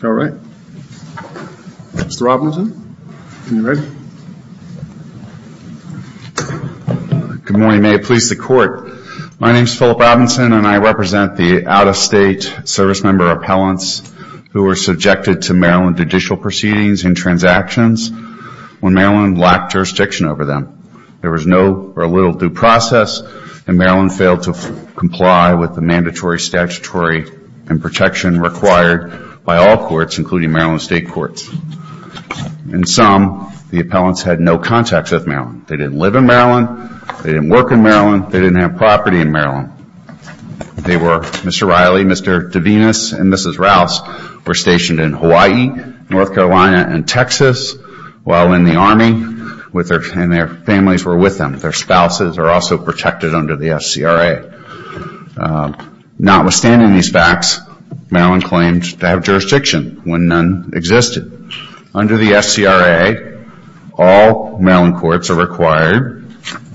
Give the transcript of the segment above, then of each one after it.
Good morning. May it please the Court, my name is Philip Robinson and I represent the out-of-state servicemember appellants who were subjected to Maryland judicial proceedings and transactions when Maryland lacked jurisdiction over them. There was no or little due process and Maryland failed to comply with the mandatory statutory and protection required by all courts including Maryland State Courts. In sum, the appellants had no contacts with Maryland. They didn't live in Maryland, they didn't work in Maryland, they didn't have property in Maryland. They were, Mr. Riley, Mr. DeVenis and Mrs. Rouse were stationed in Hawaii, North Carolina and Texas while in the Army and their families were with them. Their spouses are also protected under the SCRA. Notwithstanding these facts, Maryland claimed to have jurisdiction when none existed. Under the SCRA, all Maryland courts are required,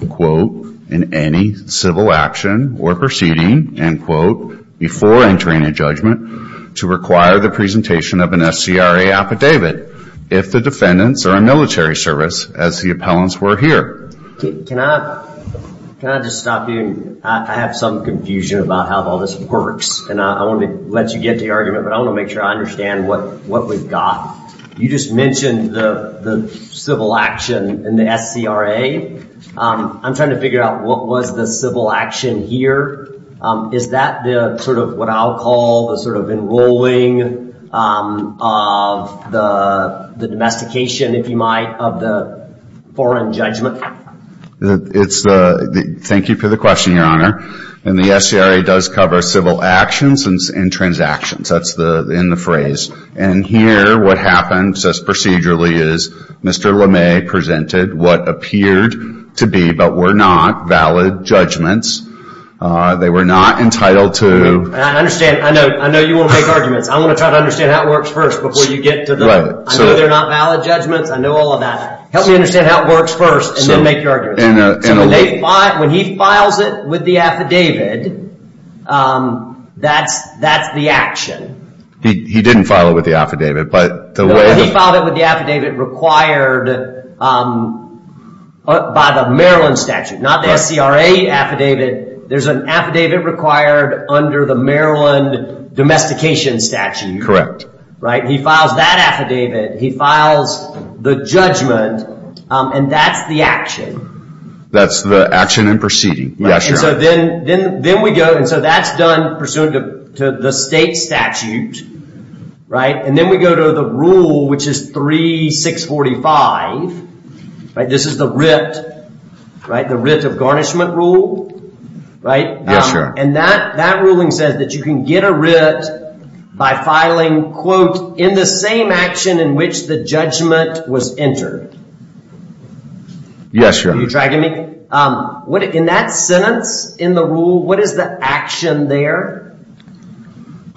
quote, in any civil action or proceeding, end quote, before entering a judgment to require the presentation of an SCRA affidavit if the defendants are a military service as the appellants were here. Can I just stop you? I have some confusion about how all this works and I want to let you get the argument but I want to make sure I understand what we've got. You just mentioned the civil action in the SCRA. I'm trying to figure out what was the civil action here. Is that the sort of what I'll call the sort of enrolling of the domestication, if you will, in light of the foreign judgment? Thank you for the question, Your Honor. The SCRA does cover civil actions and transactions. That's in the phrase. Here, what happens procedurally is Mr. LeMay presented what appeared to be but were not valid judgments. They were not entitled to... I know you want to make arguments. I want to try to understand how it works first before you get to the... I know they're not valid judgments. I know all of that. Help me understand how it works first and then make your argument. When he files it with the affidavit, that's the action. He didn't file it with the affidavit but... He filed it with the affidavit required by the Maryland statute, not the SCRA affidavit. There's an affidavit required under the Maryland domestication statute. Correct. He files that affidavit. He files the judgment and that's the action. That's the action and proceeding. Then we go... That's done pursuant to the state statute. Then we go to the rule, which is 3645. This is the writ of garnishment rule. Right? Yes, sir. That ruling says that you can get a writ by filing, quote, in the same action in which the judgment was entered. Yes, sir. Are you tracking me? In that sentence, in the rule, what is the action there?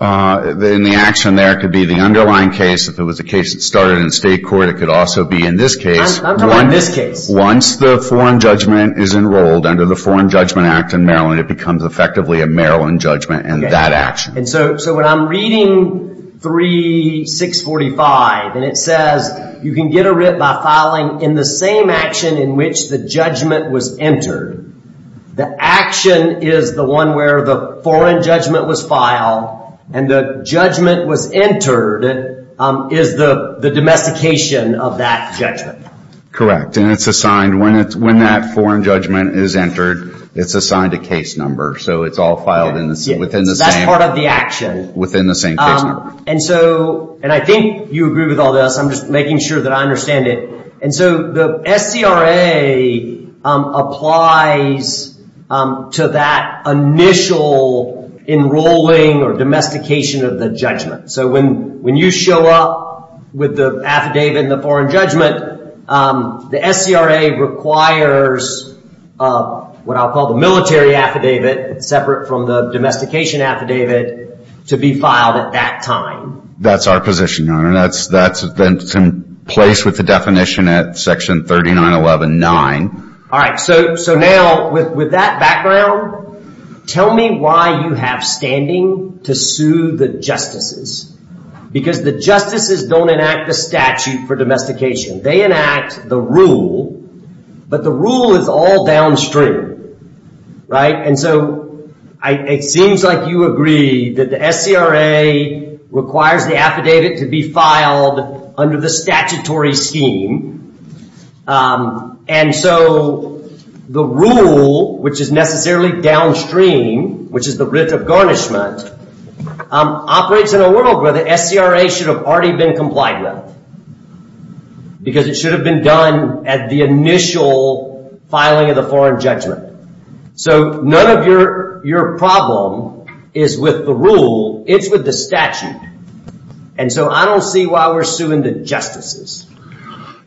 In the action there, it could be the underlying case. If it was a case that started in state court, it could also be in this case. I'm talking about this case. Once the foreign judgment is enrolled under the Foreign Judgment Act in Maryland, it becomes effectively a Maryland judgment and that action. When I'm reading 3645 and it says you can get a writ by filing in the same action in which the judgment was entered, the action is the one where the foreign judgment was filed and the judgment was entered is the domestication of that judgment. Correct. When that foreign judgment is entered, it's assigned a case number, so it's all filed within the same... That's part of the action. Within the same case number. I think you agree with all this. I'm just making sure that I understand it. The SCRA applies to that initial enrolling or domestication of the judgment. When you show up with the affidavit and the foreign judgment, the SCRA requires what I'll call the military affidavit separate from the domestication affidavit to be filed at that time. That's our position, Your Honor. That's in place with the definition at section 39119. All right. Now, with that background, tell me why you have standing to sue the justices because the justices don't enact the statute for domestication. They enact the rule, but the rule is all downstream. It seems like you agree that the SCRA requires the affidavit to be filed under the statutory scheme. The rule, which is necessarily downstream, which is the writ of garnishment, operates in a world where the SCRA should have already been complied with because it should have been done at the initial filing of the foreign judgment. None of your problem is with the rule. It's with the statute. I don't see why we're suing the justices.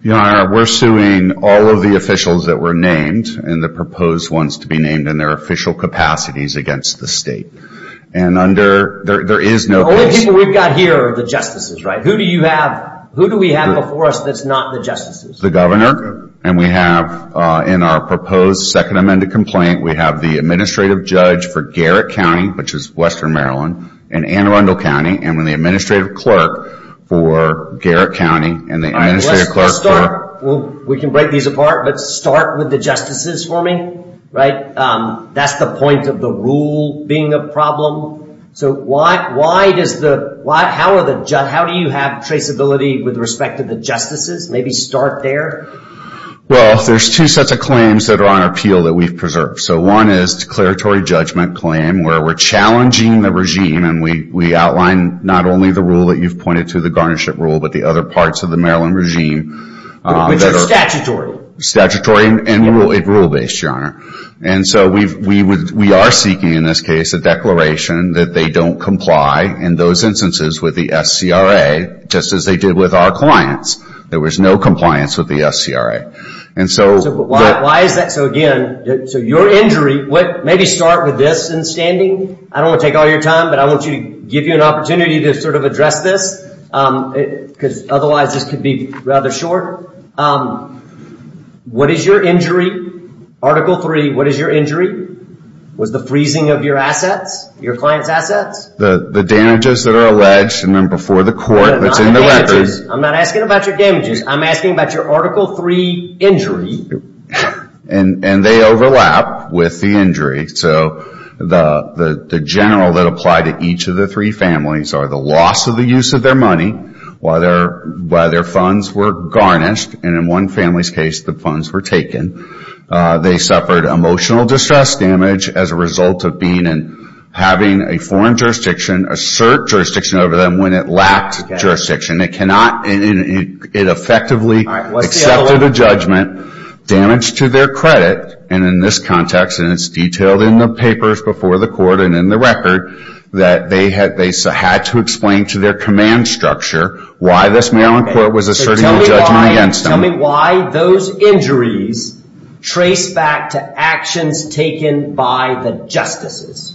Your Honor, we're suing all of the officials that were named and the proposed ones to be named in their official capacities against the state. The only people we've got here are the justices, right? Who do we have before us that's not the justices? The governor and we have in our proposed second amended complaint, we have the administrative judge for Garrett County, which is Western Maryland, and Anne Arundel County, and the administrative clerk for Garrett County. We can break these apart, but start with the justices for me, right? That's the point of the rule being a problem. How do you have traceability with respect to the justices? Maybe start there. Well, there's two sets of claims that are on appeal that we've preserved. One is declaratory judgment claim where we're challenging the regime and we outline not only the rule that you've pointed to, the garnishment rule, but the other And so we are seeking in this case a declaration that they don't comply in those instances with the SCRA, just as they did with our clients. There was no compliance with the SCRA. So again, your injury, maybe start with this in standing. I don't want to take all your time, but I want to give you an opportunity to address this, because otherwise this could be rather short. What is your injury? Article three, what is your injury? Was the freezing of your assets, your client's assets? The damages that are alleged, and then before the court, that's in the records. I'm not asking about your damages. I'm asking about your article three injury. And they overlap with the injury. So the general that apply to each of the three families are the loss of the use of their money, while their funds were garnished, and in one family's case the funds were taken. They suffered emotional distress damage as a result of having a foreign jurisdiction assert jurisdiction over them when it lacked jurisdiction. It effectively accepted a judgment, damaged to their credit, and in this context, and it's detailed in the papers before the court and in the record, that they had to explain to their command structure why this Maryland court was asserting a judgment against them. Tell me why those injuries trace back to actions taken by the justices.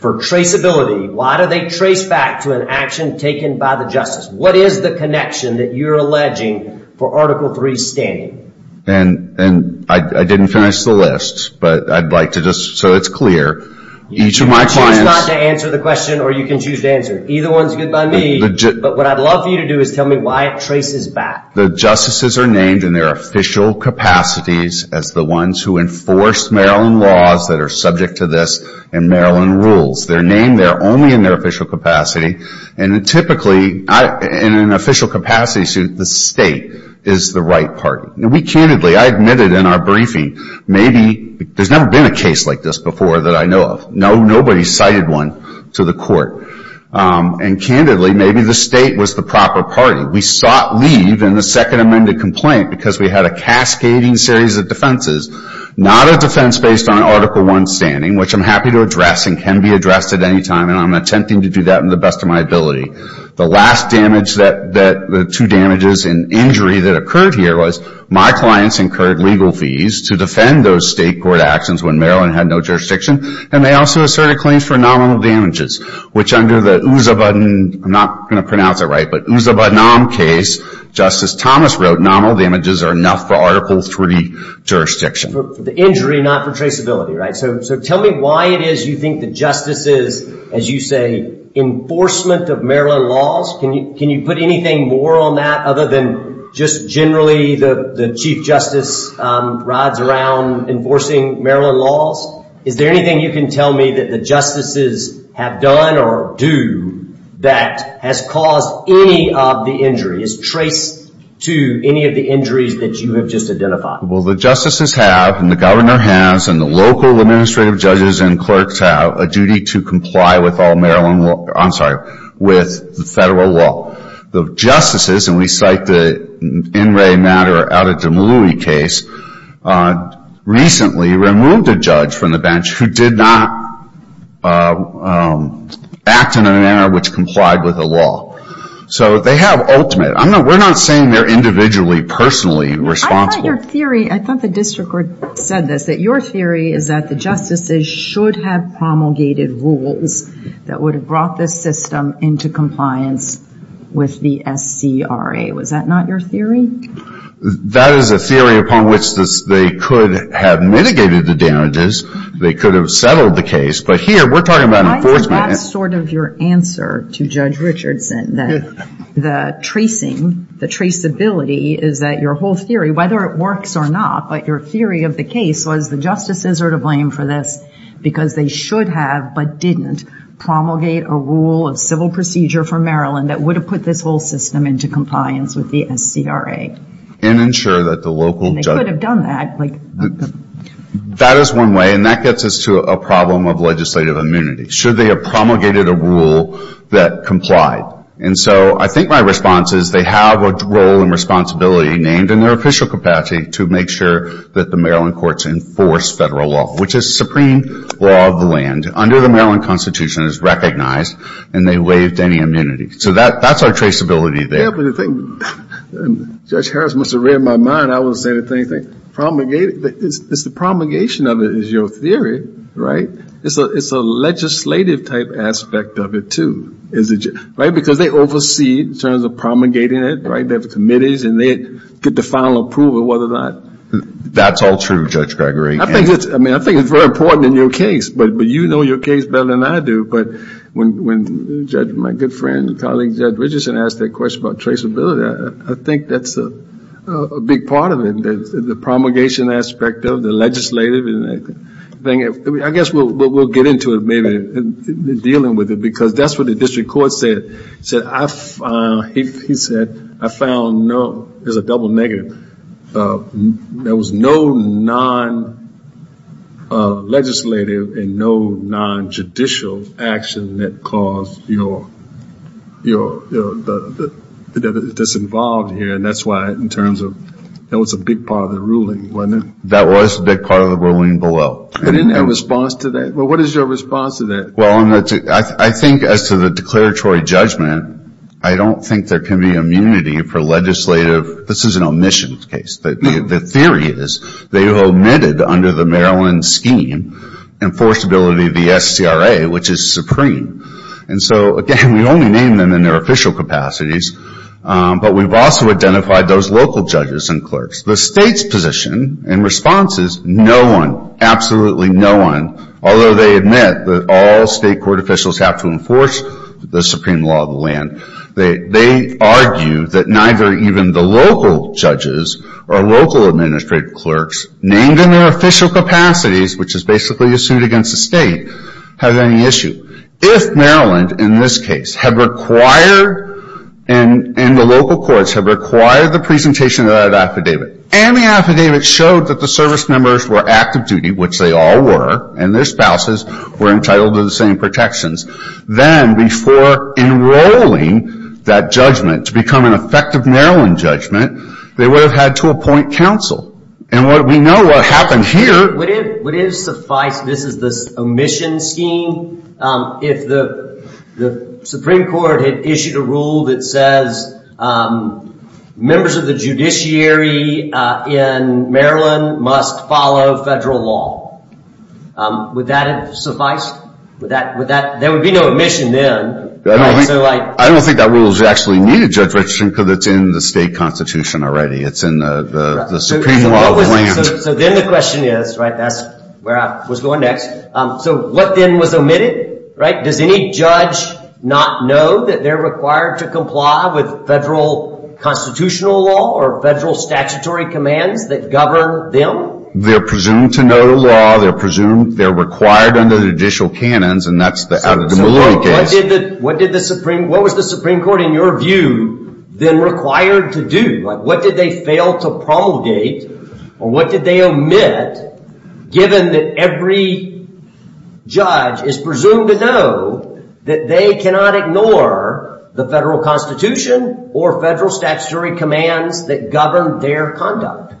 For traceability, why do they trace back to an action taken by the justice? What is the connection that you're alleging for article three standing? And I didn't finish the list, but I'd like to just so it's clear. You can choose not to answer the question or you can choose to answer. Either one's good by me, but what I'd love for you to do is tell me why it traces back. The justices are named in their official capacities as the ones who enforce Maryland laws that are subject to this and Maryland rules. They're named there only in their official capacity, and typically in an official capacity suit, the state is the right party. We candidly, I admitted in our briefing, maybe, there's never been a case like this before that I know of. Nobody cited one to the court. And candidly, maybe the state was the proper party. We sought leave in the second amended complaint because we had a cascading series of defenses, not a defense based on article one standing, which I'm happy to address and can be addressed at any time, and I'm attempting to do that in the best of my ability. The last damage, that the two damages and injury that occurred here was my clients incurred legal fees to defend those state court actions when Maryland had no jurisdiction, and they also asserted claims for nominal damages, which under the Uzzabadan, I'm not going to pronounce it right, but Uzzabadnam case, Justice Thomas wrote, nominal damages are enough for article three jurisdiction. The injury, not for traceability, right? So tell me why it is you think the justices, as you say, enforcement of Maryland laws, can you put anything more on that other than just generally the chief justice rides around enforcing Maryland laws? Is there anything you can tell me that the justices have done or do that has caused any of the injuries, traced to any of the injuries that you have just identified? Well, the justices have, and the governor has, and the local administrative judges and clerks have, a duty to comply with all Maryland law, I'm sorry, with the federal law. The justices, and we cite the NRA matter out of the Malui case, recently removed a judge from the bench who did not act in a manner which complied with the law. So they have ultimate, we're not saying they're individually, personally responsible. I thought your theory, I thought the district said this, that your theory is that the justices should have promulgated rules that would have brought this system into compliance with the SCRA. Was that not your theory? That is a theory upon which they could have mitigated the damages. They could have settled the case. But here, we're talking about enforcement. I think that's sort of your answer to Judge Richardson, that the tracing, the traceability is that your whole theory, whether it works or not, but your theory of the case was the justices are to blame for this because they should have, but didn't, promulgate a rule of civil procedure for Maryland that would have put this whole system into compliance with the SCRA. And ensure that the local judges... And they could have done that. That is one way, and that gets us to a problem of legislative immunity. Should they have promulgated a rule that complied? And so I think my response is they have a role and responsibility named in their official capacity to make sure that the Maryland courts enforce federal law, which is supreme law of the land. Under the Maryland Constitution, it's recognized and they waived any immunity. So that's our traceability there. Yeah, but the thing, Judge Harris must have read my mind, I wouldn't say anything. It's the promulgation of it is your theory, right? It's a legislative-type aspect of it, too. Because they oversee in terms of promulgating it, right? They have committees and they get the final approval, whether or not... That's all true, Judge Gregory. I mean, I think it's very important in your case, but you know your case better than I do. But when my good friend and colleague, Judge Richardson, asked that question about traceability, I think that's a big part of it, the promulgation aspect of the legislative thing. I guess we'll get into it, maybe, dealing with it, because that's what the district court said. He said, I found no... There's a double negative. There was no non-legislative and no non-judicial action that caused your... That's involved here, and that's why in terms of... That was a big part of the ruling, wasn't it? That was a big part of the ruling below. I didn't have a response to that. Well, what is your response to that? Well, I think as to the declaratory judgment, I don't think there can be immunity for legislative... This is an omission case. The theory is they omitted under the Maryland scheme, enforceability of the SCRA, which is supreme. And so, again, we only name them in their official capacities, but we've also identified those local judges and clerks. The state's position and response is no one, absolutely no one, although they admit that all state court officials have to enforce the supreme law of the land. They argue that neither even the local judges or local administrative clerks, named in their official capacities, which is basically a suit against the state, have any issue. If Maryland, in this case, had required... And the local courts have required the presentation of that affidavit. And the affidavit showed that the service members were active duty, which they all were, and their spouses were entitled to the same protections. Then, before enrolling that judgment to become an effective Maryland judgment, they would have had to appoint counsel. And we know what happened here. Would it have sufficed... This is the omission scheme. If the Supreme Court had issued a rule that says members of the judiciary in Maryland must follow federal law, would that have sufficed? Would that... There would be no omission then. I don't think that rules actually need a judge registration because it's in the state constitution already. It's in the supreme law of the land. So then the question is, right, that's where I was going next. So what then was omitted, right? Does any judge not know that they're required to comply with federal constitutional law or federal statutory commands that govern them? They're presumed to know the law. They're presumed... They're required under judicial canons, and that's out of the Malawi case. What did the Supreme... What was the Supreme Court, in your view, then required to do? What did they fail to promulgate? Or what did they omit given that every judge is presumed to know that they cannot ignore the federal constitution or federal statutory commands that govern their conduct?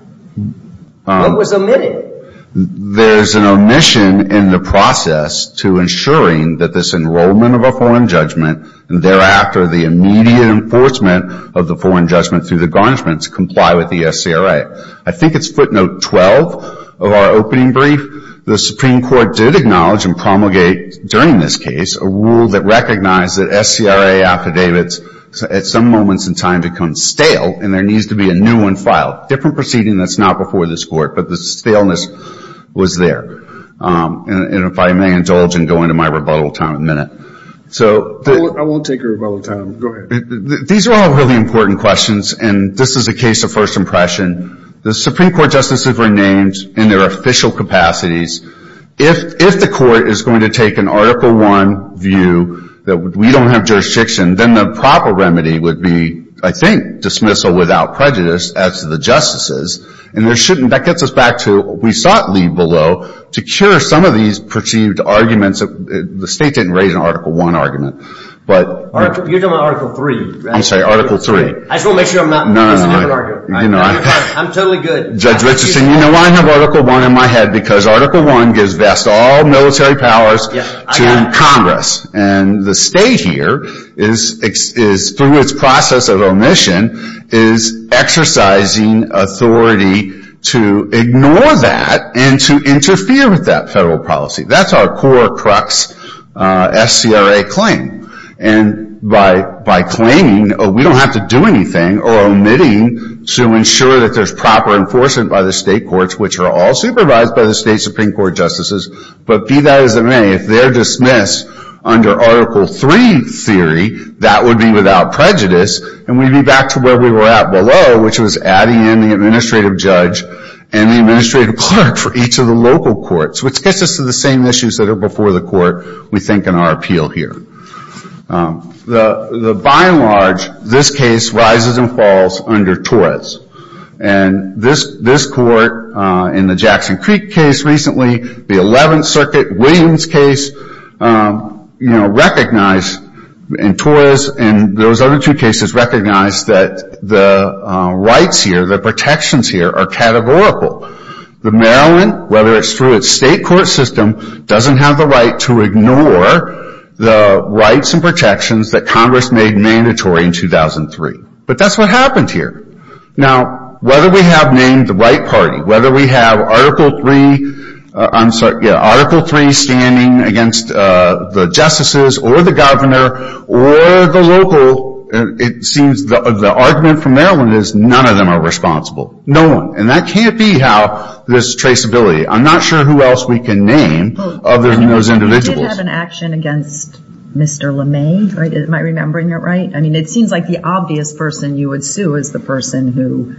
What was omitted? There's an omission in the process to ensuring that this enrollment of a foreign judgment and thereafter the immediate enforcement of the foreign judgment through the garnishments comply with the SCRA. I think it's footnote 12 of our opening brief. The Supreme Court has a rule that recognized that SCRA affidavits at some moments in time become stale, and there needs to be a new one filed. Different proceeding that's not before this court, but the staleness was there. And if I may indulge and go into my rebuttal time in a minute. I won't take your rebuttal time. Go ahead. These are all really important questions, and this is a case of first impression. The Supreme Court justices were named in their official capacities. If the court is going to take an Article I view that we don't have jurisdiction, then the proper remedy would be, I think, dismissal without prejudice as to the justices. And that gets us back to we sought leave below to cure some of these perceived arguments. The state didn't raise an Article I argument. You're talking about Article III. I'm sorry, Article III. I just want to make sure I'm not misinterpreting. I'm totally good. Judge Richardson, you know why I have Article I in my head? Because Article I gives vast all military powers to Congress. And the state here through its process of omission is exercising authority to ignore that and to interfere with that federal policy. That's our core crux SCRA claim. And by claiming we don't have to do anything or omitting to ensure that there's proper enforcement by the state courts, which are all supervised by the state Supreme Court justices. But be that as it may, if they're dismissed under Article III theory, that would be without prejudice. And we'd be back to where we were at below, which was adding in the administrative judge and the administrative clerk for each of the local courts, which gets us to the same issues that are before the court, we think, in our appeal here. By and large, this case rises and falls under Torres. And this court in the Jackson Creek case recently, the 11th Circuit Williams case, you know, recognized in Torres and those other two cases recognized that the rights here, the protections here are categorical. The Maryland, whether it's through its state court system, doesn't have the right to ignore the rights and protections that Congress made mandatory in 2003. But that's what happened here. Now, whether we have named the right party, whether we have Article III standing against the justices or the governor or the local, it seems the argument from Maryland is none of them are responsible. No one. And that can't be how this traceability. I'm not sure who else we can name other than those individuals. You did have an action against Mr. LeMay. Am I remembering it right? I mean, it seems like the obvious person you would sue is the person who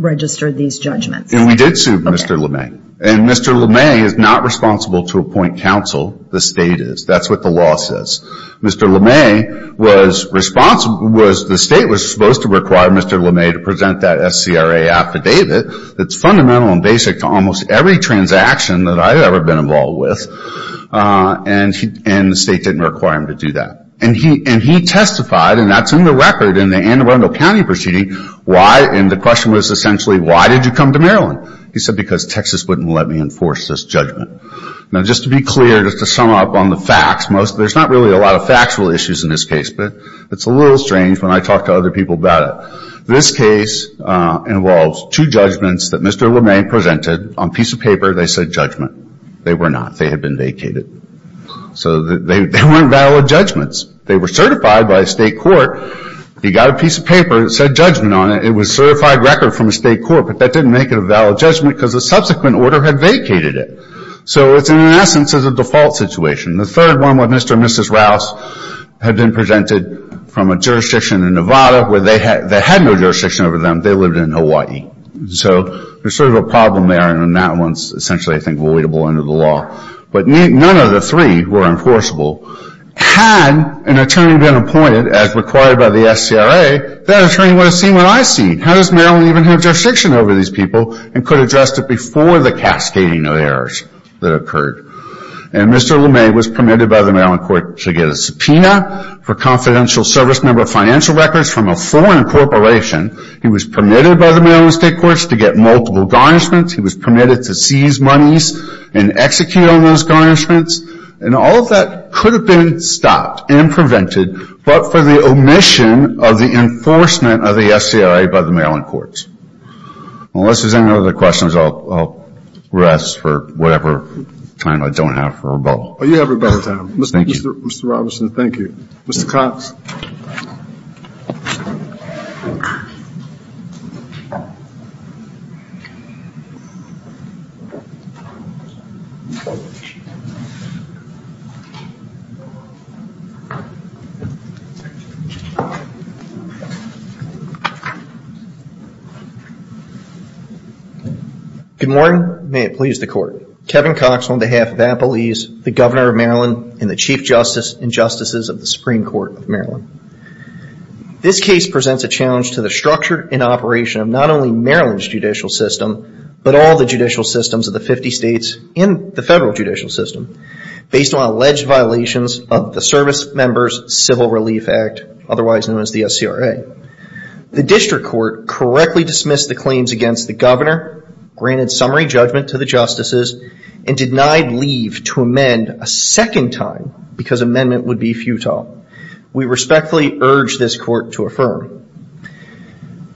registered these judgments. We did sue Mr. LeMay. And Mr. LeMay is not responsible to appoint counsel. The state is. That's what the law says. Mr. LeMay was responsible was the state was supposed to require Mr. LeMay to present that SCRA affidavit that's fundamental and basic to almost every transaction that I've ever been involved with. And the state didn't require him to do that. And he testified, and that's in the record in the Anne Arundel County proceeding, why, and the question was essentially why did you come to Maryland? He said because Texas wouldn't let me enforce this judgment. Now, just to be clear, just to sum up on the facts, most, there's not really a lot of factual issues in this case, but it's a little strange when I other people about it. This case involves two judgments that Mr. LeMay presented on a piece of paper. They said judgment. They were not. They had been vacated. So they weren't valid judgments. They were certified by a state court. He got a piece of paper that said judgment on it. It was certified record from a state court, but that didn't make it a valid judgment because the subsequent order had vacated it. So it's, in essence, a default situation. The third one, Mr. and Mrs. Rouse had been presented from a jurisdiction in Nevada where they had no jurisdiction over them. They lived in Hawaii. So there's sort of a problem there, and that one's essentially, I think, voidable under the law. But none of the three were enforceable. Had an attorney been appointed, as required by the SCRA, that attorney would have seen what I've seen. How does Maryland even have jurisdiction over these people and could have addressed it before the cascading of errors that occurred. And Mr. LeMay was permitted by the Maryland court to get a subpoena for confidential service member financial records from a foreign corporation. He was permitted by the Maryland state courts to get multiple garnishments. He was permitted to seize monies and execute on those garnishments. And all of that could have been stopped and prevented, but for the omission of the enforcement of the SCRA by the Maryland courts. Unless there's any questions, I'll rest for whatever time I don't have for rebuttal. Oh, you have rebuttal time. Mr. Robertson, thank you. Mr. Cox. Good morning. May it please the court. Kevin Cox on behalf of Appalese, the Governor of Maryland, and the Chief Justice and Justices of the Supreme Court of Maryland. This case presents a challenge to the structure and operation of not only Maryland's judicial system, but all the judicial systems of the 50 states and the federal judicial system, based on alleged violations of the Service Members Civil Relief Act, otherwise known as the SCRA. The district court correctly dismissed the claims against the governor, granted summary judgment to the justices, and denied leave to amend a second time because amendment would be futile. We respectfully urge this court to affirm.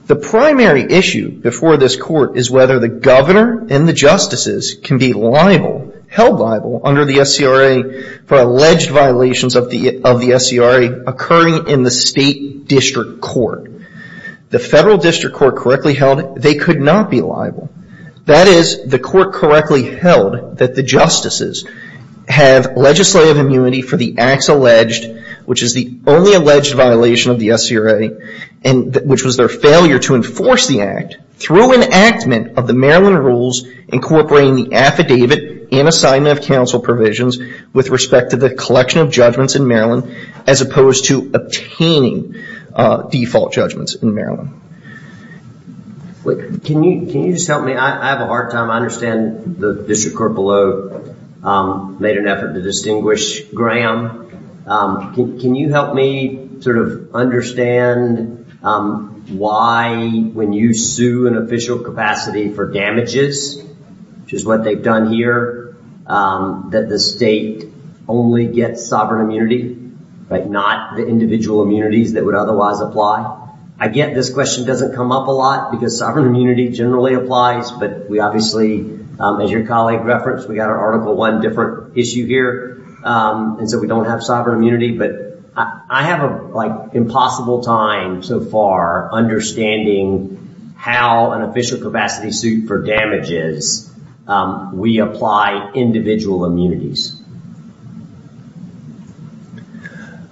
The primary issue before this court is whether the governor and the justices can be held liable under the SCRA for alleged violations of the SCRA occurring in the state district court. The federal district court correctly held they could not be liable. That is, the court correctly held that the justices have legislative immunity for the acts alleged, which is the only alleged violation of the SCRA, which was their failure to enforce the act, through enactment of the provisions with respect to the collection of judgments in Maryland, as opposed to obtaining default judgments in Maryland. Can you just help me? I have a hard time. I understand the district court below made an effort to distinguish Graham. Can you help me sort of understand why when you sue an official capacity for damages, which is what they've done here, that the state only gets sovereign immunity, but not the individual immunities that would otherwise apply? I get this question doesn't come up a lot because sovereign immunity generally applies, but we obviously, as your colleague referenced, we got our Article I different issue here, and so we don't have sovereign immunity, but I have an impossible time so far understanding how an official capacity suit for damages, we apply individual immunities.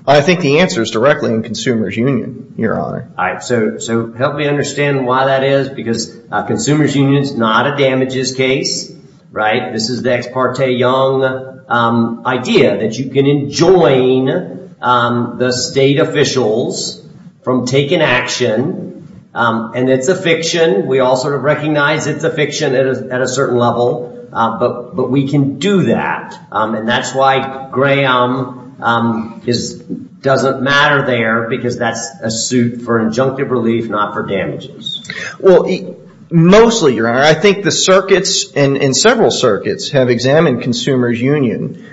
I think the answer is directly in consumer's union, your honor. All right, so help me understand why that is, because consumer's union is not a damages case, right? This is the ex parte young idea that you can enjoin the state officials from taking action, and it's a fiction. We all sort of recognize it's a fiction at a certain level, but we can do that, and that's why Graham doesn't matter there because that's a suit for injunctive relief, not for damages. Well, mostly, your honor, I think the circuits and several circuits have examined consumer's union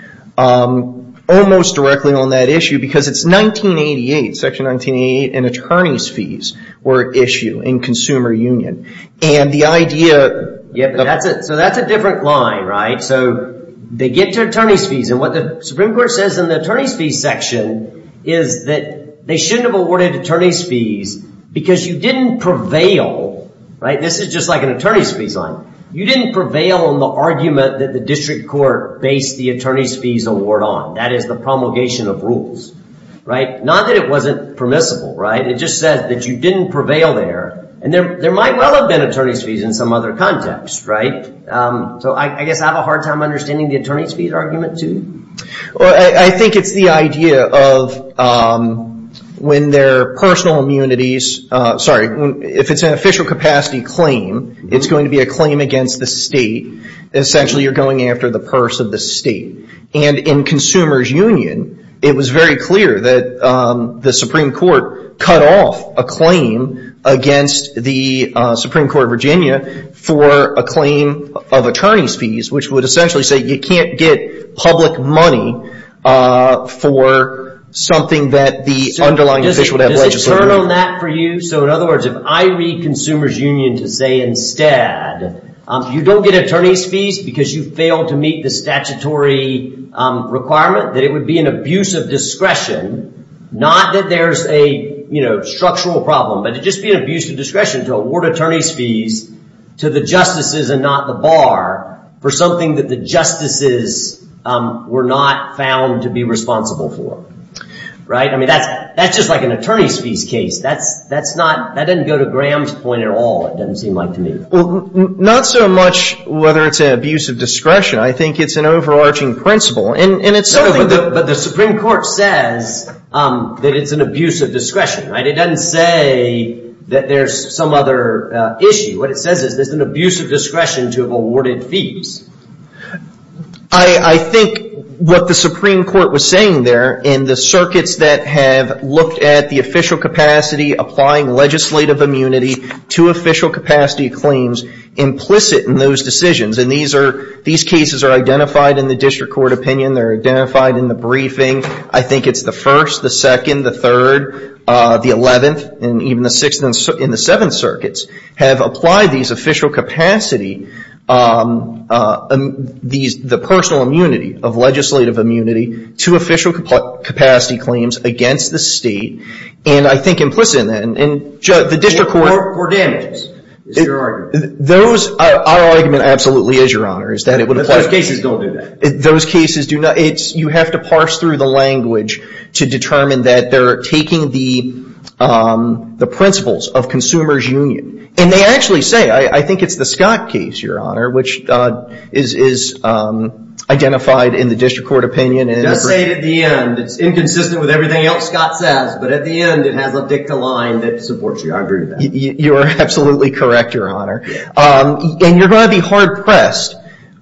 almost directly on that issue because it's Section 1988 and attorney's fees were issued in consumer union, and the idea... Yeah, but that's it. So that's a different line, right? So they get to attorney's fees, and what the Supreme Court says in the attorney's fees section is that they shouldn't have awarded attorney's fees because you didn't prevail, right? This is just like an attorney's fees line. You didn't prevail on the argument that the district court based the attorney's fees award on. That is the promulgation of rules, right? Not that it wasn't permissible, right? It just says that you didn't prevail there, and there might well have been attorney's fees in some other context, right? So I guess I have a hard time understanding the attorney's fees argument too. Well, I think it's the idea of when their personal immunities... Sorry. If it's an official capacity claim, it's going to be a claim against the state. Essentially, you're going after the purse of the state. And in consumer's union, it was very clear that the Supreme Court cut off a claim against the Supreme Court of Virginia for a claim of attorney's fees, which would essentially say you can't get public money for something that the underlying official would have legislated. Does it turn on that for you? So in other words, if I read consumer's union to say instead, you don't get attorney's fees because you failed to meet the statutory requirement, that it would be an abuse of discretion. Not that there's a structural problem, but it'd just be an abuse of discretion to award attorney's fees to the justices and not the bar for something that the justices were not found to be responsible for. Right? I mean, that's just like an attorney's fees case. That doesn't go to Graham's point at all, it doesn't seem like to me. Well, not so much whether it's an abuse of discretion. I think it's an overarching principle. But the Supreme Court says that it's an abuse of discretion, right? It doesn't say that there's some other issue. What it says is there's an abuse of discretion to have awarded fees. I think what the Supreme Court was saying there in the circuits that have looked at the official capacity, applying legislative immunity to official capacity claims implicit in those decisions, and these cases are identified in the district court opinion, they're identified in the briefing. I think it's the first, the second, the third, the 11th, and even the 6th and the 7th circuits have applied these official capacity, the personal immunity of legislative immunity to official capacity claims against the state, and I think implicit in that, and the district court- Court damages, is your argument. Those, our argument absolutely is, Your Honor, is that it would apply- Those cases don't do that. Those cases do not, it's, you have to parse through the language to determine that they're taking the principles of consumer's union, and they actually say, I think it's the Scott case, Your Honor, which is identified in the district court opinion- It does say at the end, it's inconsistent with everything else Scott says, but at the end, it has a dicta line that supports the argument. You're absolutely correct, Your Honor, and you're going to be hard-pressed,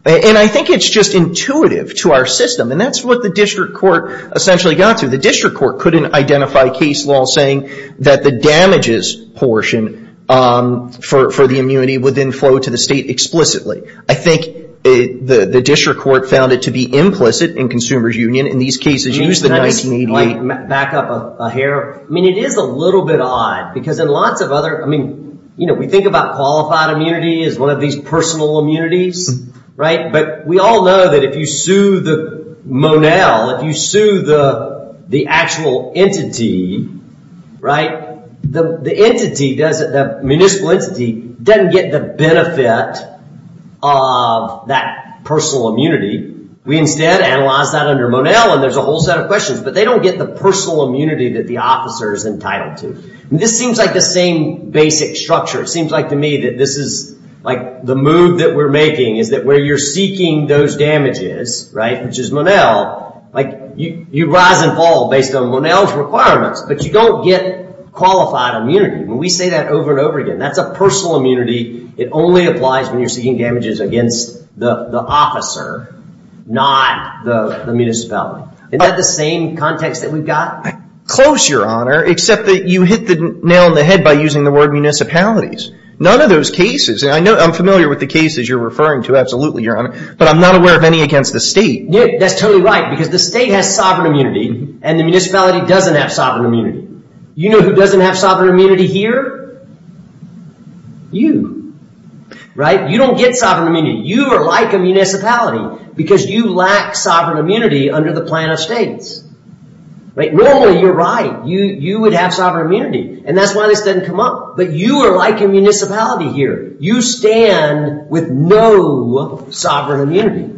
and I think it's just intuitive to our system, and that's what the district court essentially got to. The district court couldn't identify case law saying that the damages portion for the immunity would then flow to the state explicitly. I think the district court found it to be implicit in consumer's union. In these cases, use the 1988- Back up a hair. I mean, it is a little bit odd, because in lots of other, I mean, we think about qualified immunity as one of these personal immunities, right? We all know that if you sue the Monell, if you sue the actual entity, the municipal entity doesn't get the benefit of that personal immunity. We instead analyze that under Monell, and there's a whole set of questions, but they don't get the personal immunity that the officer is entitled to. This seems like the same basic structure. It seems like to me that this is like the move that we're making is that where you're seeking those damages, which is Monell, you rise and fall based on Monell's requirements, but you don't get qualified immunity. When we say that over and over again, that's a personal immunity. It only applies when you're seeking damages against the officer, not the municipality. Is that the same context that we've got? Close, your honor, except that you hit the nail in the head by using the word municipalities. None of those cases, and I'm familiar with the cases you're referring to, absolutely, but I'm not aware of any against the state. That's totally right, because the state has sovereign immunity, and the municipality doesn't have sovereign immunity. You know who doesn't have sovereign immunity here? You. You don't get sovereign immunity. You are like a municipality, because you lack sovereign immunity under the plan of states. Normally, you're right. You would have sovereign immunity, and that's why this doesn't come up, but you are like a municipality here. You stand with no sovereign immunity.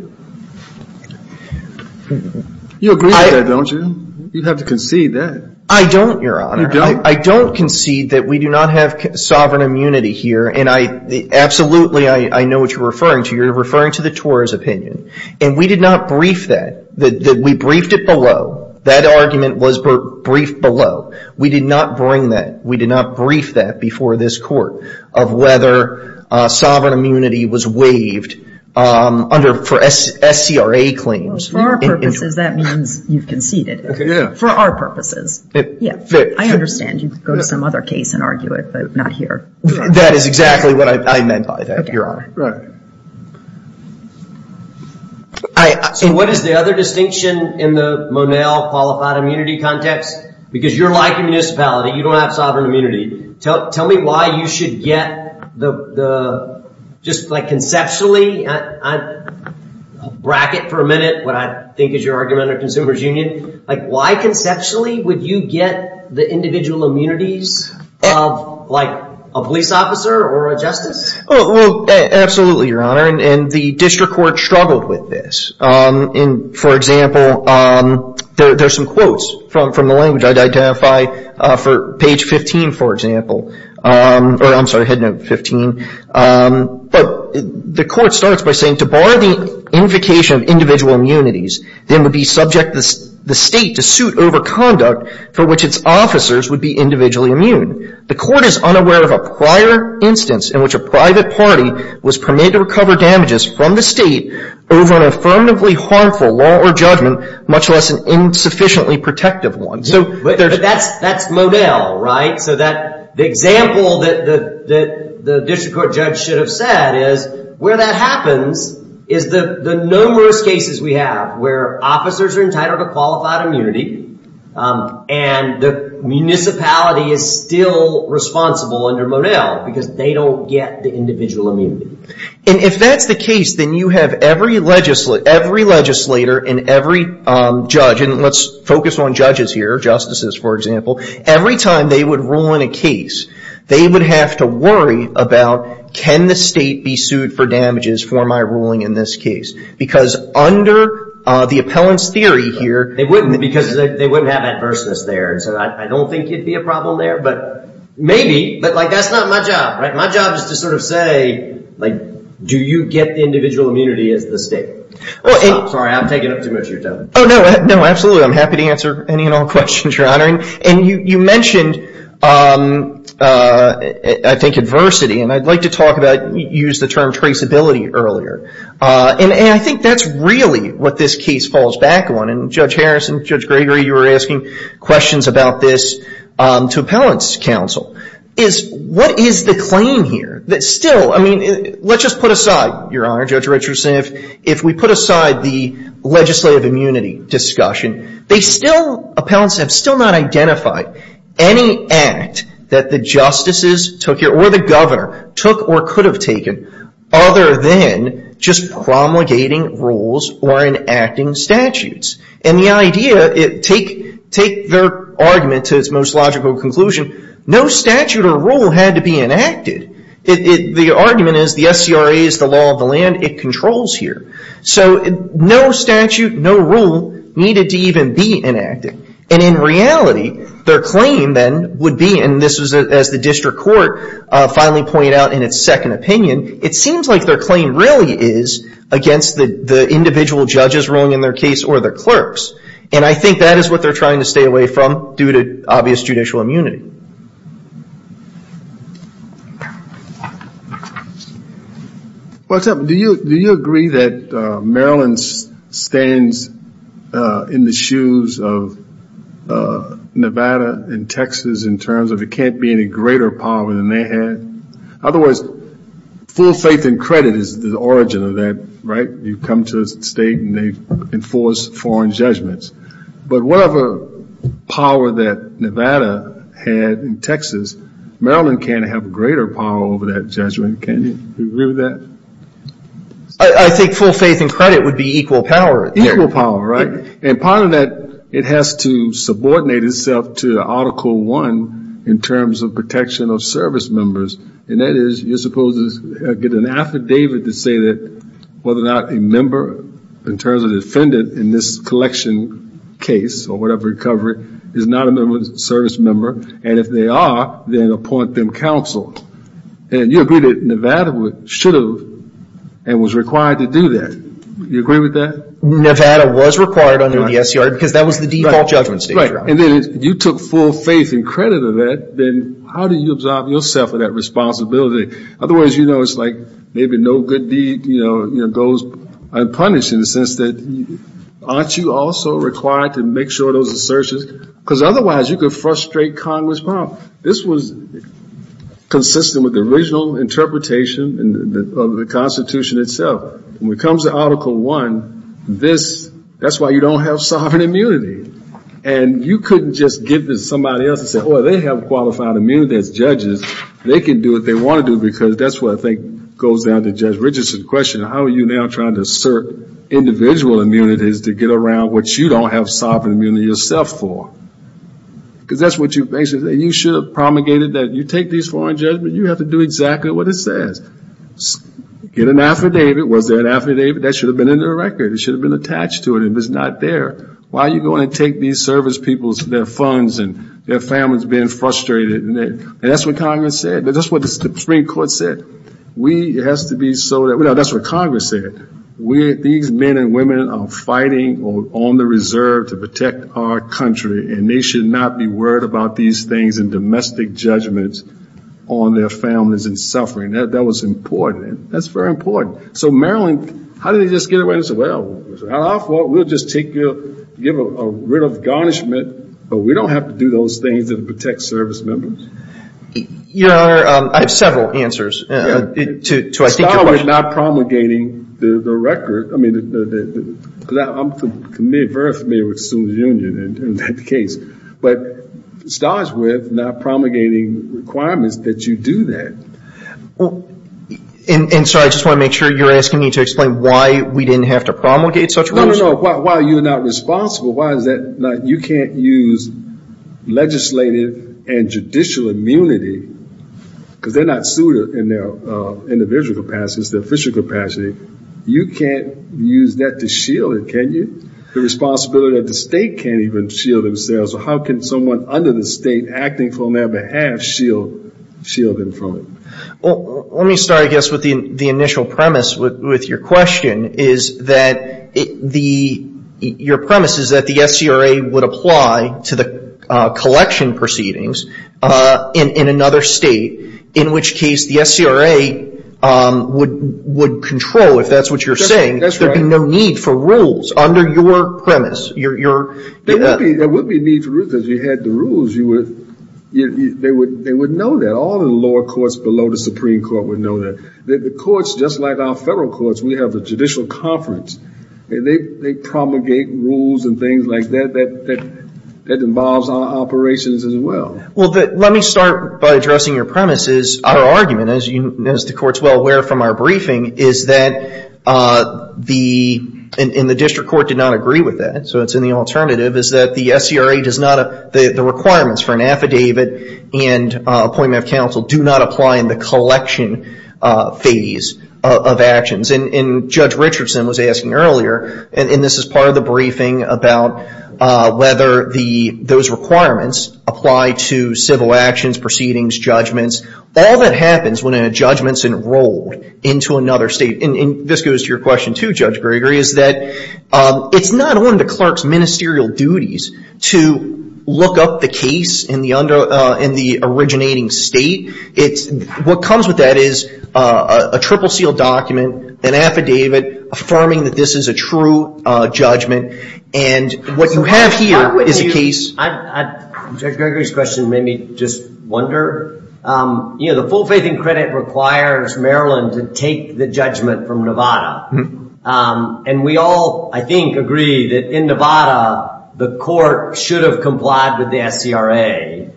You agree with that, don't you? You'd have to concede that. I don't, your honor. I don't concede that we do not have sovereign immunity here, and absolutely, I know what you're referring to. You're referring to the TOR's opinion, and we did not brief that. We briefed it below. That argument was briefed below. We did not bring that. Before this court, of whether sovereign immunity was waived for SCRA claims. For our purposes, that means you've conceded it. For our purposes. I understand you could go to some other case and argue it, but not here. That is exactly what I meant by that, your honor. So what is the other distinction in the Monell qualified immunity context? Because you're like a municipality. You don't have sovereign immunity. Tell me why you should get the, just like conceptually, bracket for a minute, what I think is your argument of consumer's union. Why conceptually would you get the individual immunities of a police officer or a justice? Absolutely, your honor. The district court struggled with this. For example, there's some quotes from the language. I'd identify for page 15, for example. Or I'm sorry, head note 15. But the court starts by saying, to bar the invocation of individual immunities, then would be subject the state to suit over conduct for which its officers would be individually immune. The court is unaware of a prior instance in which a private party was permitted to recover damages from the state over an affirmatively harmful law or judgment, much less an insufficiently protective one. But that's Monell, right? The example that the district court judge should have said is, where that happens is the numerous cases we have where officers are entitled to qualified immunity, and the municipality is still responsible under Monell, because they don't get the individual immunity. If that's the case, then you have every legislator and every judge, and let's focus on judges here, justices, for example. Every time they would rule in a case, they would have to worry about, can the state be sued for damages for my ruling in this case? Because under the appellant's theory here- They wouldn't, because they wouldn't have adverseness there. And so I don't think it'd be a problem there, but maybe. But that's not my job, right? My job is to sort of say, do you get the individual immunity as the state? Sorry, I'm taking up too much of your time. Oh, no. No, absolutely. I'm happy to answer any and all questions, Your Honor. And you mentioned, I think, adversity. And I'd like to use the term traceability earlier. And I think that's really what this case falls back on. And Judge Harris and Judge Gregory, you were asking questions about this to appellant's counsel. What is the claim here? Let's just put aside, Your Honor, Judge Richardson, if we put aside the legislative immunity discussion, they still, appellants have still not identified any act that the justices took or the governor took or could have taken other than just promulgating rules or enacting statutes. And the idea, take their argument to its most logical conclusion, no statute or rule had to be enacted. The argument is the SCRA is the law of the land. It controls here. So no statute, no rule needed to even be enacted. And in reality, their claim then would be, and this is as the district court finally pointed out in its second opinion, it seems like their claim really is against the individual judges ruling in their case or the clerks. And I think that is what they're trying to stay away from due to obvious judicial immunity. Well, do you agree that Maryland stands in the shoes of Nevada and Texas in terms of it can't be any greater power than they had? Otherwise, full faith and credit is the origin of that, right? You come to a state and they enforce foreign judgments. But whatever power that Nevada had in Texas, Maryland can't have greater power over that in Jesuit. Can you agree with that? I think full faith and credit would be equal power. Equal power, right? And part of that, it has to subordinate itself to Article I in terms of protection of service members. And that is, you're supposed to get an affidavit to say that whether or not a member, in terms of defendant in this collection case or whatever recovery, is not a member of the service member. And if they are, then appoint them counsel. And you agree that Nevada should have and was required to do that. You agree with that? Nevada was required under the SCR because that was the default judgment stage. Right. And then if you took full faith and credit of that, then how do you absorb yourself of that responsibility? Otherwise, it's like maybe no good deed goes unpunished in the sense that aren't you also required to make sure those assertions, because otherwise you could frustrate Congress. This was consistent with the original interpretation of the Constitution itself. When it comes to Article I, that's why you don't have sovereign immunity. And you couldn't just give this to somebody else and say, oh, they have qualified immunity as judges. They can do what they want to do. Because that's what I think goes down to Judge Richardson's question. How are you now trying to assert individual immunities to get around what you don't have sovereign immunity yourself for? Because that's what you basically say. You should have promulgated that. You take these foreign judgments. You have to do exactly what it says. Get an affidavit. Was there an affidavit? That should have been in their record. It should have been attached to it. And if it's not there, why are you going to take these service people's funds and their families being frustrated? And that's what Congress said. That's what the Supreme Court said. That's what Congress said. These men and women are fighting on the reserve to protect our country. And they should not be worried about these things and domestic judgments on their families and suffering. That was important. That's very important. So Maryland, how did they just get away? They said, well, we'll just give a writ of garnishment. But we don't have to do those things to protect service members. Your Honor, I have several answers to I think your question. It starts with not promulgating the record. I mean, I'm very familiar with Sooners Union and that case. But it starts with not promulgating requirements that you do that. And so I just want to make sure you're asking me to explain why we didn't have to promulgate such rules? No, no, no. Why are you not responsible? You can't use legislative and judicial immunity, because they're not suited in their individual capacity. It's their official capacity. You can't use that to shield it, can you? The responsibility of the state can't even shield themselves. So how can someone under the state acting on their behalf shield them from it? Let me start, I guess, with the initial premise with your question. Is that your premise is that the SCRA would apply to the collection proceedings in another state, in which case the SCRA would control, if that's what you're saying. That's right. There'd be no need for rules under your premise. There would be a need for rules, because if you had the rules, they would know that. All the lower courts below the Supreme Court would know that. The courts, just like our federal courts, we have a judicial conference. They promulgate rules and things like that. That involves our operations as well. Well, let me start by addressing your premise. Is our argument, as the court's well aware from our briefing, is that the district court did not agree with that. So it's in the alternative. Is that the SCRA does not, the requirements for an affidavit and appointment of counsel do not apply in the collection phase of actions? Judge Richardson was asking earlier, and this is part of the briefing, about whether those requirements apply to civil actions, proceedings, judgments. All that happens when a judgment's enrolled into another state. This goes to your question too, Judge Gregory, is that it's not on the clerk's ministerial duties to look up the case in the originating state. What comes with that is a triple seal document, an affidavit, affirming that this is a true judgment. What you have here is a case. Judge Gregory's question made me just wonder. The full faith and credit requires Maryland to take the judgment from Nevada. And we all, I think, agree that in Nevada, the court should have complied with the SCRA.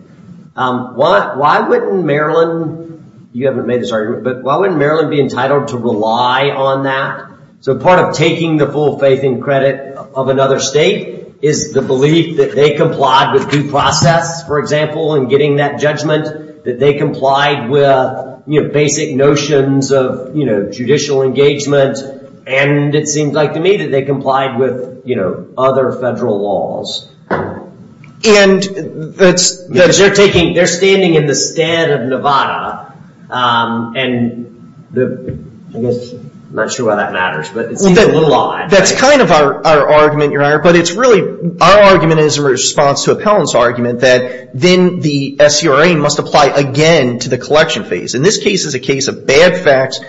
Why wouldn't Maryland, you haven't made this argument, but why wouldn't Maryland be entitled to rely on that? So part of taking the full faith and credit of another state is the belief that they complied with due process, for example, in getting that judgment. That they complied with basic notions of judicial engagement. And it seems like to me that they complied with other federal laws. They're standing in the stead of Nevada. I guess, I'm not sure why that matters, but it seems a little odd. That's kind of our argument, Your Honor. But it's really, our argument is in response to Appellant's argument that then the SCRA must apply again to the collection phase. And this case is a case of bad facts,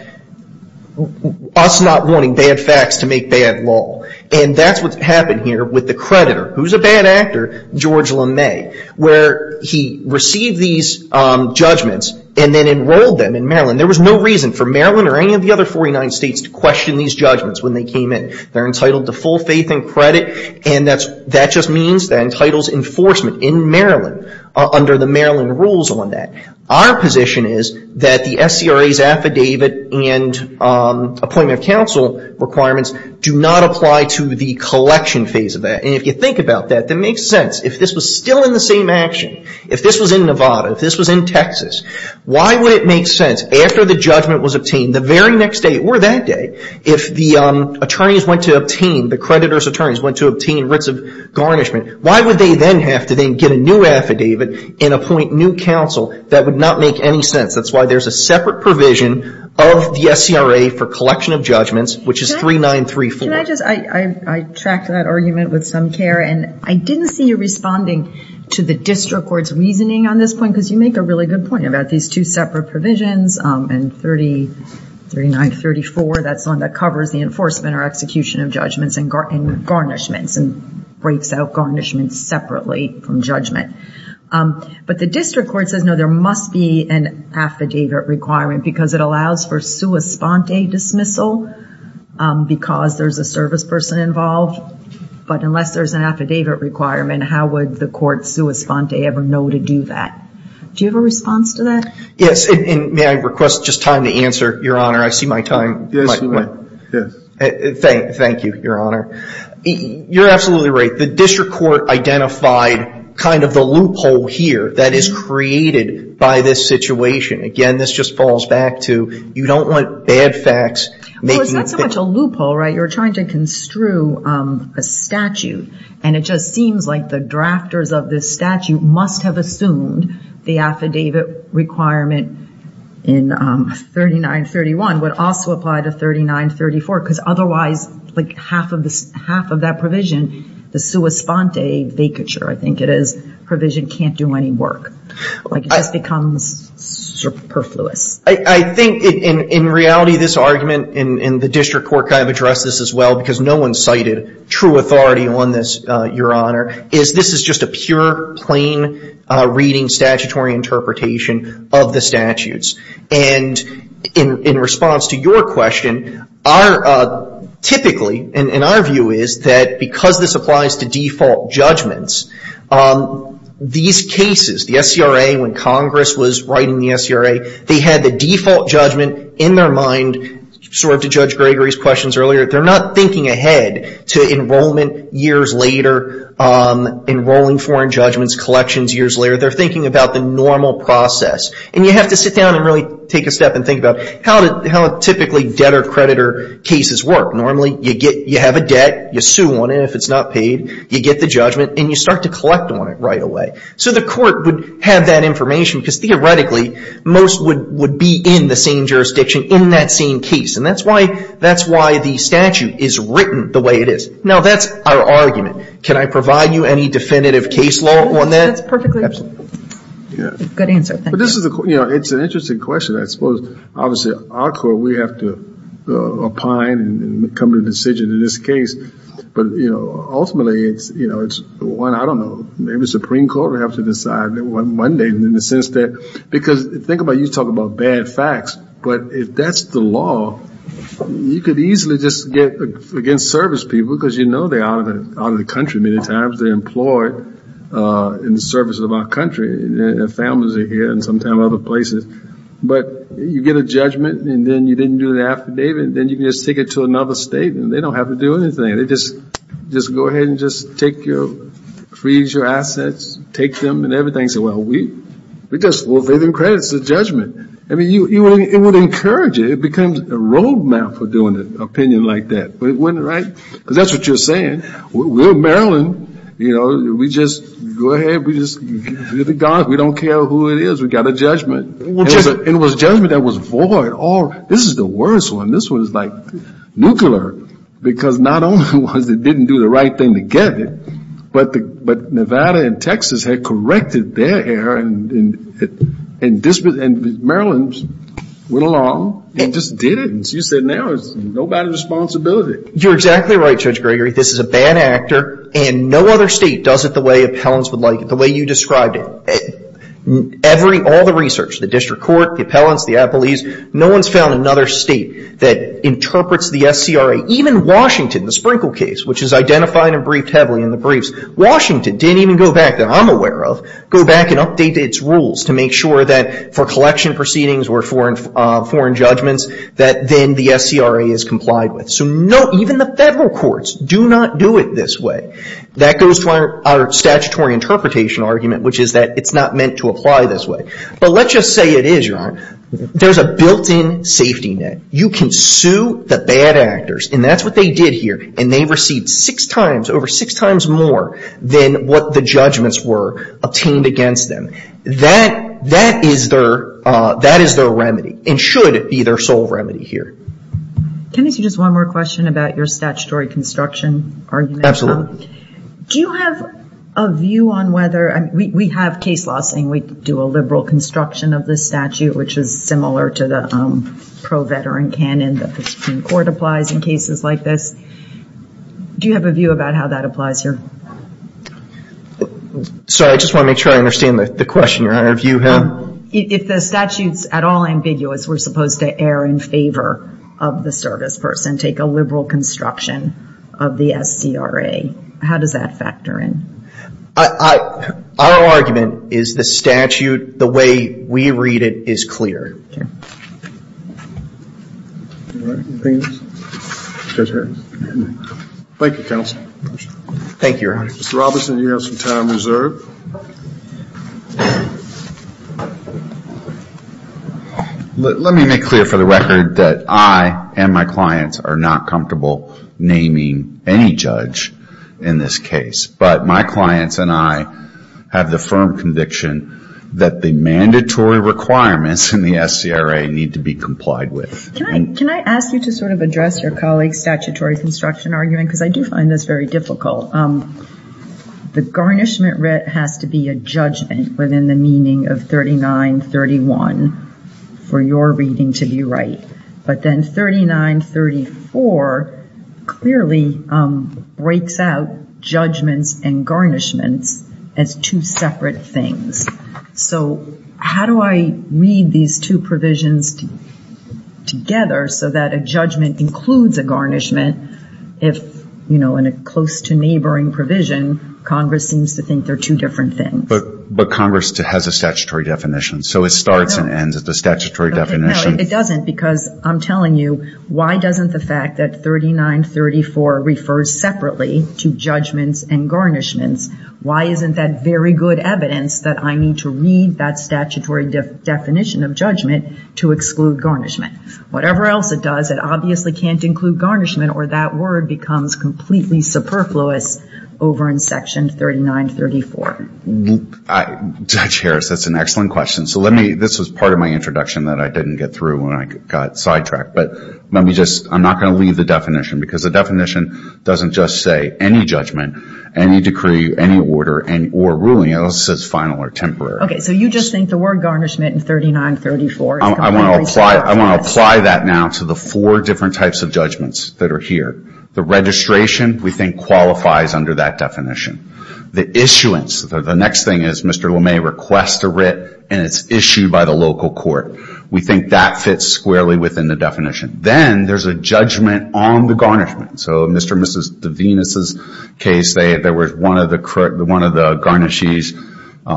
us not wanting bad facts to make bad law. And that's what's happened here with the creditor, who's a bad actor, George LeMay, where he received these judgments and then enrolled them in Maryland. There was no reason for Maryland or any of the other 49 states to question these judgments when they came in. They're entitled to full faith and credit. And that just means that entitles enforcement in Maryland under the Maryland rules on that. Our position is that the SCRA's affidavit and appointment of counsel requirements do not apply to the collection phase of that. And if you think about that, that makes sense. If this was still in the same action, if this was in Nevada, if this was in Texas, why would it make sense after the judgment was obtained, the very next day or that day, if the attorneys went to obtain, the creditor's attorneys went to obtain writs of garnishment, why would they then have to then get a new affidavit and appoint new counsel? That would not make any sense. That's why there's a separate provision of the SCRA for collection of judgments, which is 3934. Can I just, I tracked that argument with some care, and I didn't see you responding to the district court's reasoning on this point, because you make a really good point about these two separate provisions, and 3934, that's the one that covers the enforcement or execution of judgments and garnishments, and breaks out garnishments separately from But the district court says, no, there must be an affidavit requirement, because it allows for sua sponte dismissal, because there's a service person involved. But unless there's an affidavit requirement, how would the court sua sponte ever know to do that? Do you have a response to that? Yes, and may I request just time to answer, Your Honor? I see my time. Thank you, Your Honor. You're absolutely right. The district court identified kind of the loophole here that is created by this situation. Again, this just falls back to, you don't want bad facts. Well, it's not so much a loophole, right? You're trying to construe a statute, and it just seems like the drafters of this statute must have assumed the affidavit requirement in 3931 would also apply to 3934. Because otherwise, like half of that provision, the sua sponte vacature, I think it is, provision can't do any work. Like, it just becomes superfluous. I think, in reality, this argument, and the district court kind of addressed this as well, because no one cited true authority on this, Your Honor, is this is just a pure, plain reading, statutory interpretation of the statutes. And in response to your question, typically, and our view is that because this applies to default judgments, these cases, the SCRA, when Congress was writing the SCRA, they had the default judgment in their mind, sort of to Judge Gregory's questions earlier, they're not thinking ahead to enrollment years later, enrolling foreign judgments, collections years later, they're thinking about the normal process. And you have to sit down and really take a step and think about how typically debtor-creditor cases work. Normally, you have a debt, you sue on it if it's not paid, you get the judgment, and you start to collect on it right away. So the court would have that information, because theoretically, most would be in the same jurisdiction in that same case. And that's why the statute is written the way it is. Now, that's our argument. Can I provide you any definitive case law on that? That's perfectly. Good answer. Thank you. It's an interesting question. I suppose, obviously, our court, we have to opine and come to a decision in this case. But ultimately, it's one, I don't know, maybe the Supreme Court will have to decide one day in the sense that, because think about, you talk about bad facts, but if that's the law, you could easily just get against service people, because you know they're out of the country many times. They're employed in the service of our country, and their families are here, and sometimes other places. But you get a judgment, and then you didn't do the affidavit, and then you can just take it to another state, and they don't have to do anything. They just go ahead and just freeze your assets, take them, and everything. Say, well, we just will give them credit. It's a judgment. I mean, it would encourage it. It becomes a roadmap for doing an opinion like that. But it wouldn't, right? Because that's what you're saying, we're Maryland, you know, we just go ahead, we just give it to God. We don't care who it is. We got a judgment. It was a judgment that was void. Oh, this is the worst one. This one's like nuclear, because not only was it didn't do the right thing to get it, but Nevada and Texas had corrected their error, and Maryland went along and just did it, and she said, now it's nobody's responsibility. You're exactly right, Judge Gregory. This is a bad actor, and no other state does it the way appellants would like it, the way you described it. All the research, the district court, the appellants, the appellees, no one's found another state that interprets the SCRA, even Washington, the Sprinkle case, which is identified and briefed heavily in the briefs, Washington didn't even go back, that I'm aware of, go back and update its rules to make sure that for collection proceedings or foreign judgments, that then the SCRA is complied with. So even the federal courts do not do it this way. That goes to our statutory interpretation argument, which is that it's not meant to apply this way. But let's just say it is, Your Honor. There's a built-in safety net. You can sue the bad actors, and that's what they did here, and they received six times over, six times more than what the judgments were obtained against them. That is their remedy, and should be their sole remedy here. Can I ask you just one more question about your statutory construction argument? Absolutely. Do you have a view on whether, we have case law saying we do a liberal construction of the statute, which is similar to the pro-veteran canon that the Supreme Court applies in cases like this. Do you have a view about how that applies here? Sorry, I just want to make sure I understand the question, Your Honor, if you have. If the statute's at all ambiguous, we're supposed to err in favor of the service person, take a liberal construction of the SCRA. How does that factor in? Our argument is the statute, the way we read it, is clear. Thank you, counsel. Thank you, Your Honor. Mr. Robertson, you have some time reserved. Let me make clear for the record that I and my clients are not comfortable naming any judge in this case, but my clients and I have the firm conviction that the mandatory requirements in the SCRA need to be complied with. Can I ask you to sort of address your colleague's statutory construction argument? Because I do find this very difficult. The garnishment writ has to be a judgment within the meaning of 3931 for your reading to be right. But then 3934 clearly breaks out judgments and garnishments as two separate things. So how do I read these two provisions together so that a judgment includes a garnishment if in a close to neighboring provision, Congress seems to think they're two different things? But Congress has a statutory definition. So it starts and ends at the statutory definition. It doesn't because I'm telling you, why doesn't the fact that 3934 refers separately to judgments and garnishments? Why isn't that very good evidence that I need to read that statutory definition of judgment to exclude garnishment? Whatever else it does, it obviously can't include garnishment or that word becomes completely superfluous over in section 3934. Judge Harris, that's an excellent question. So let me, this was part of my introduction that I didn't get through when I got sidetracked. But let me just, I'm not going to leave the definition because the definition doesn't just say any judgment, any decree, any order or ruling. It only says final or temporary. Okay. So you just think the word garnishment in 3934 is completely superfluous. I want to apply that now to the four different types of judgments that are here. The registration we think qualifies under that definition. The issuance, the next thing is Mr. LeMay requests a writ and it's issued by the local court. We think that fits squarely within the definition. Then there's a judgment on the garnishment. So Mr. and Mrs. DeVenis' case, there was one of the garnishees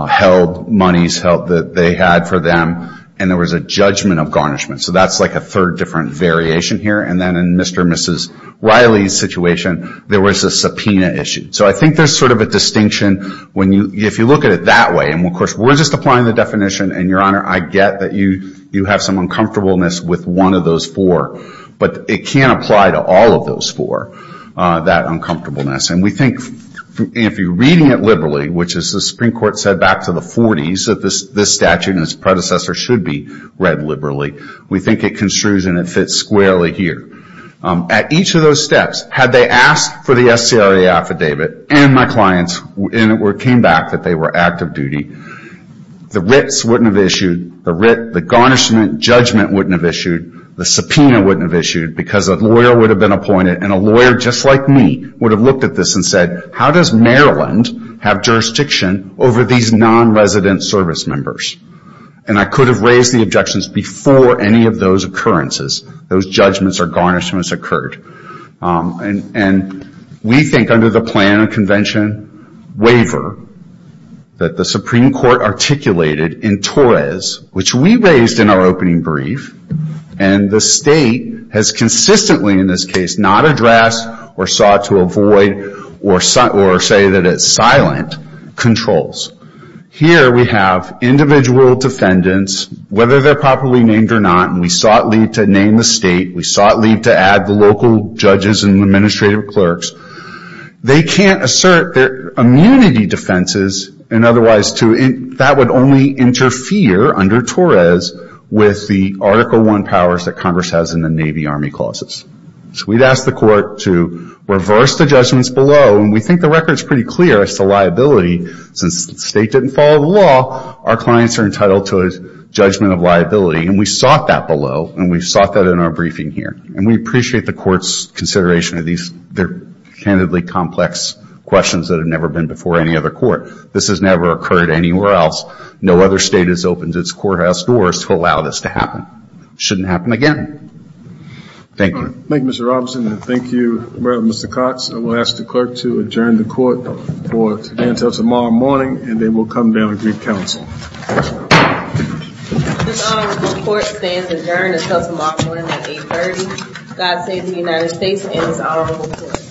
held monies held that they had for them and there was a judgment of garnishment. So that's like a third different variation here. And then in Mr. and Mrs. Riley's situation, there was a subpoena issued. So I think there's sort of a distinction when you, if you look at it that way, and of course we're just applying the definition and Your Honor, I get that you have some uncomfortableness with one of those four. But it can't apply to all of those four, that uncomfortableness. And we think if you're reading it liberally, which is the Supreme Court said back to the 40s that this statute and its predecessor should be read liberally. We think it construes and it fits squarely here. At each of those steps, had they asked for the SCRA affidavit and my clients and it came back that they were active duty, the writs wouldn't have issued, the garnishment judgment wouldn't have issued, the subpoena wouldn't have issued because a lawyer would have been appointed and a lawyer just like me would have looked at this and said, how does Maryland have jurisdiction over these non-resident service members? And I could have raised the objections before any of those occurrences, those judgments or garnishments occurred. And we think under the plan of convention waiver that the Supreme Court articulated in Torres, which we raised in our opening brief, and the state has consistently in this case not addressed or sought to avoid or say that it's silent controls. Here we have individual defendants, whether they're properly named or not, and we sought leave to add the local judges and administrative clerks. They can't assert their immunity defenses and otherwise that would only interfere under Torres with the Article I powers that Congress has in the Navy Army clauses. So we'd ask the court to reverse the judgments below and we think the record is pretty clear as to liability since the state didn't follow the law, our clients are entitled to a judgment of liability and we sought that below and we sought that in our briefing here and we appreciate the court's consideration of these candidly complex questions that have never been before any other court. This has never occurred anywhere else. No other state has opened its courthouse doors to allow this to happen. Shouldn't happen again. Thank you. Thank you, Mr. Robinson. And thank you, Mr. Cox. I will ask the clerk to adjourn the court for today until tomorrow morning and then we'll come down and greet counsel. This honorable court stands adjourned until tomorrow morning at 8.30. God save the United States and this honorable court.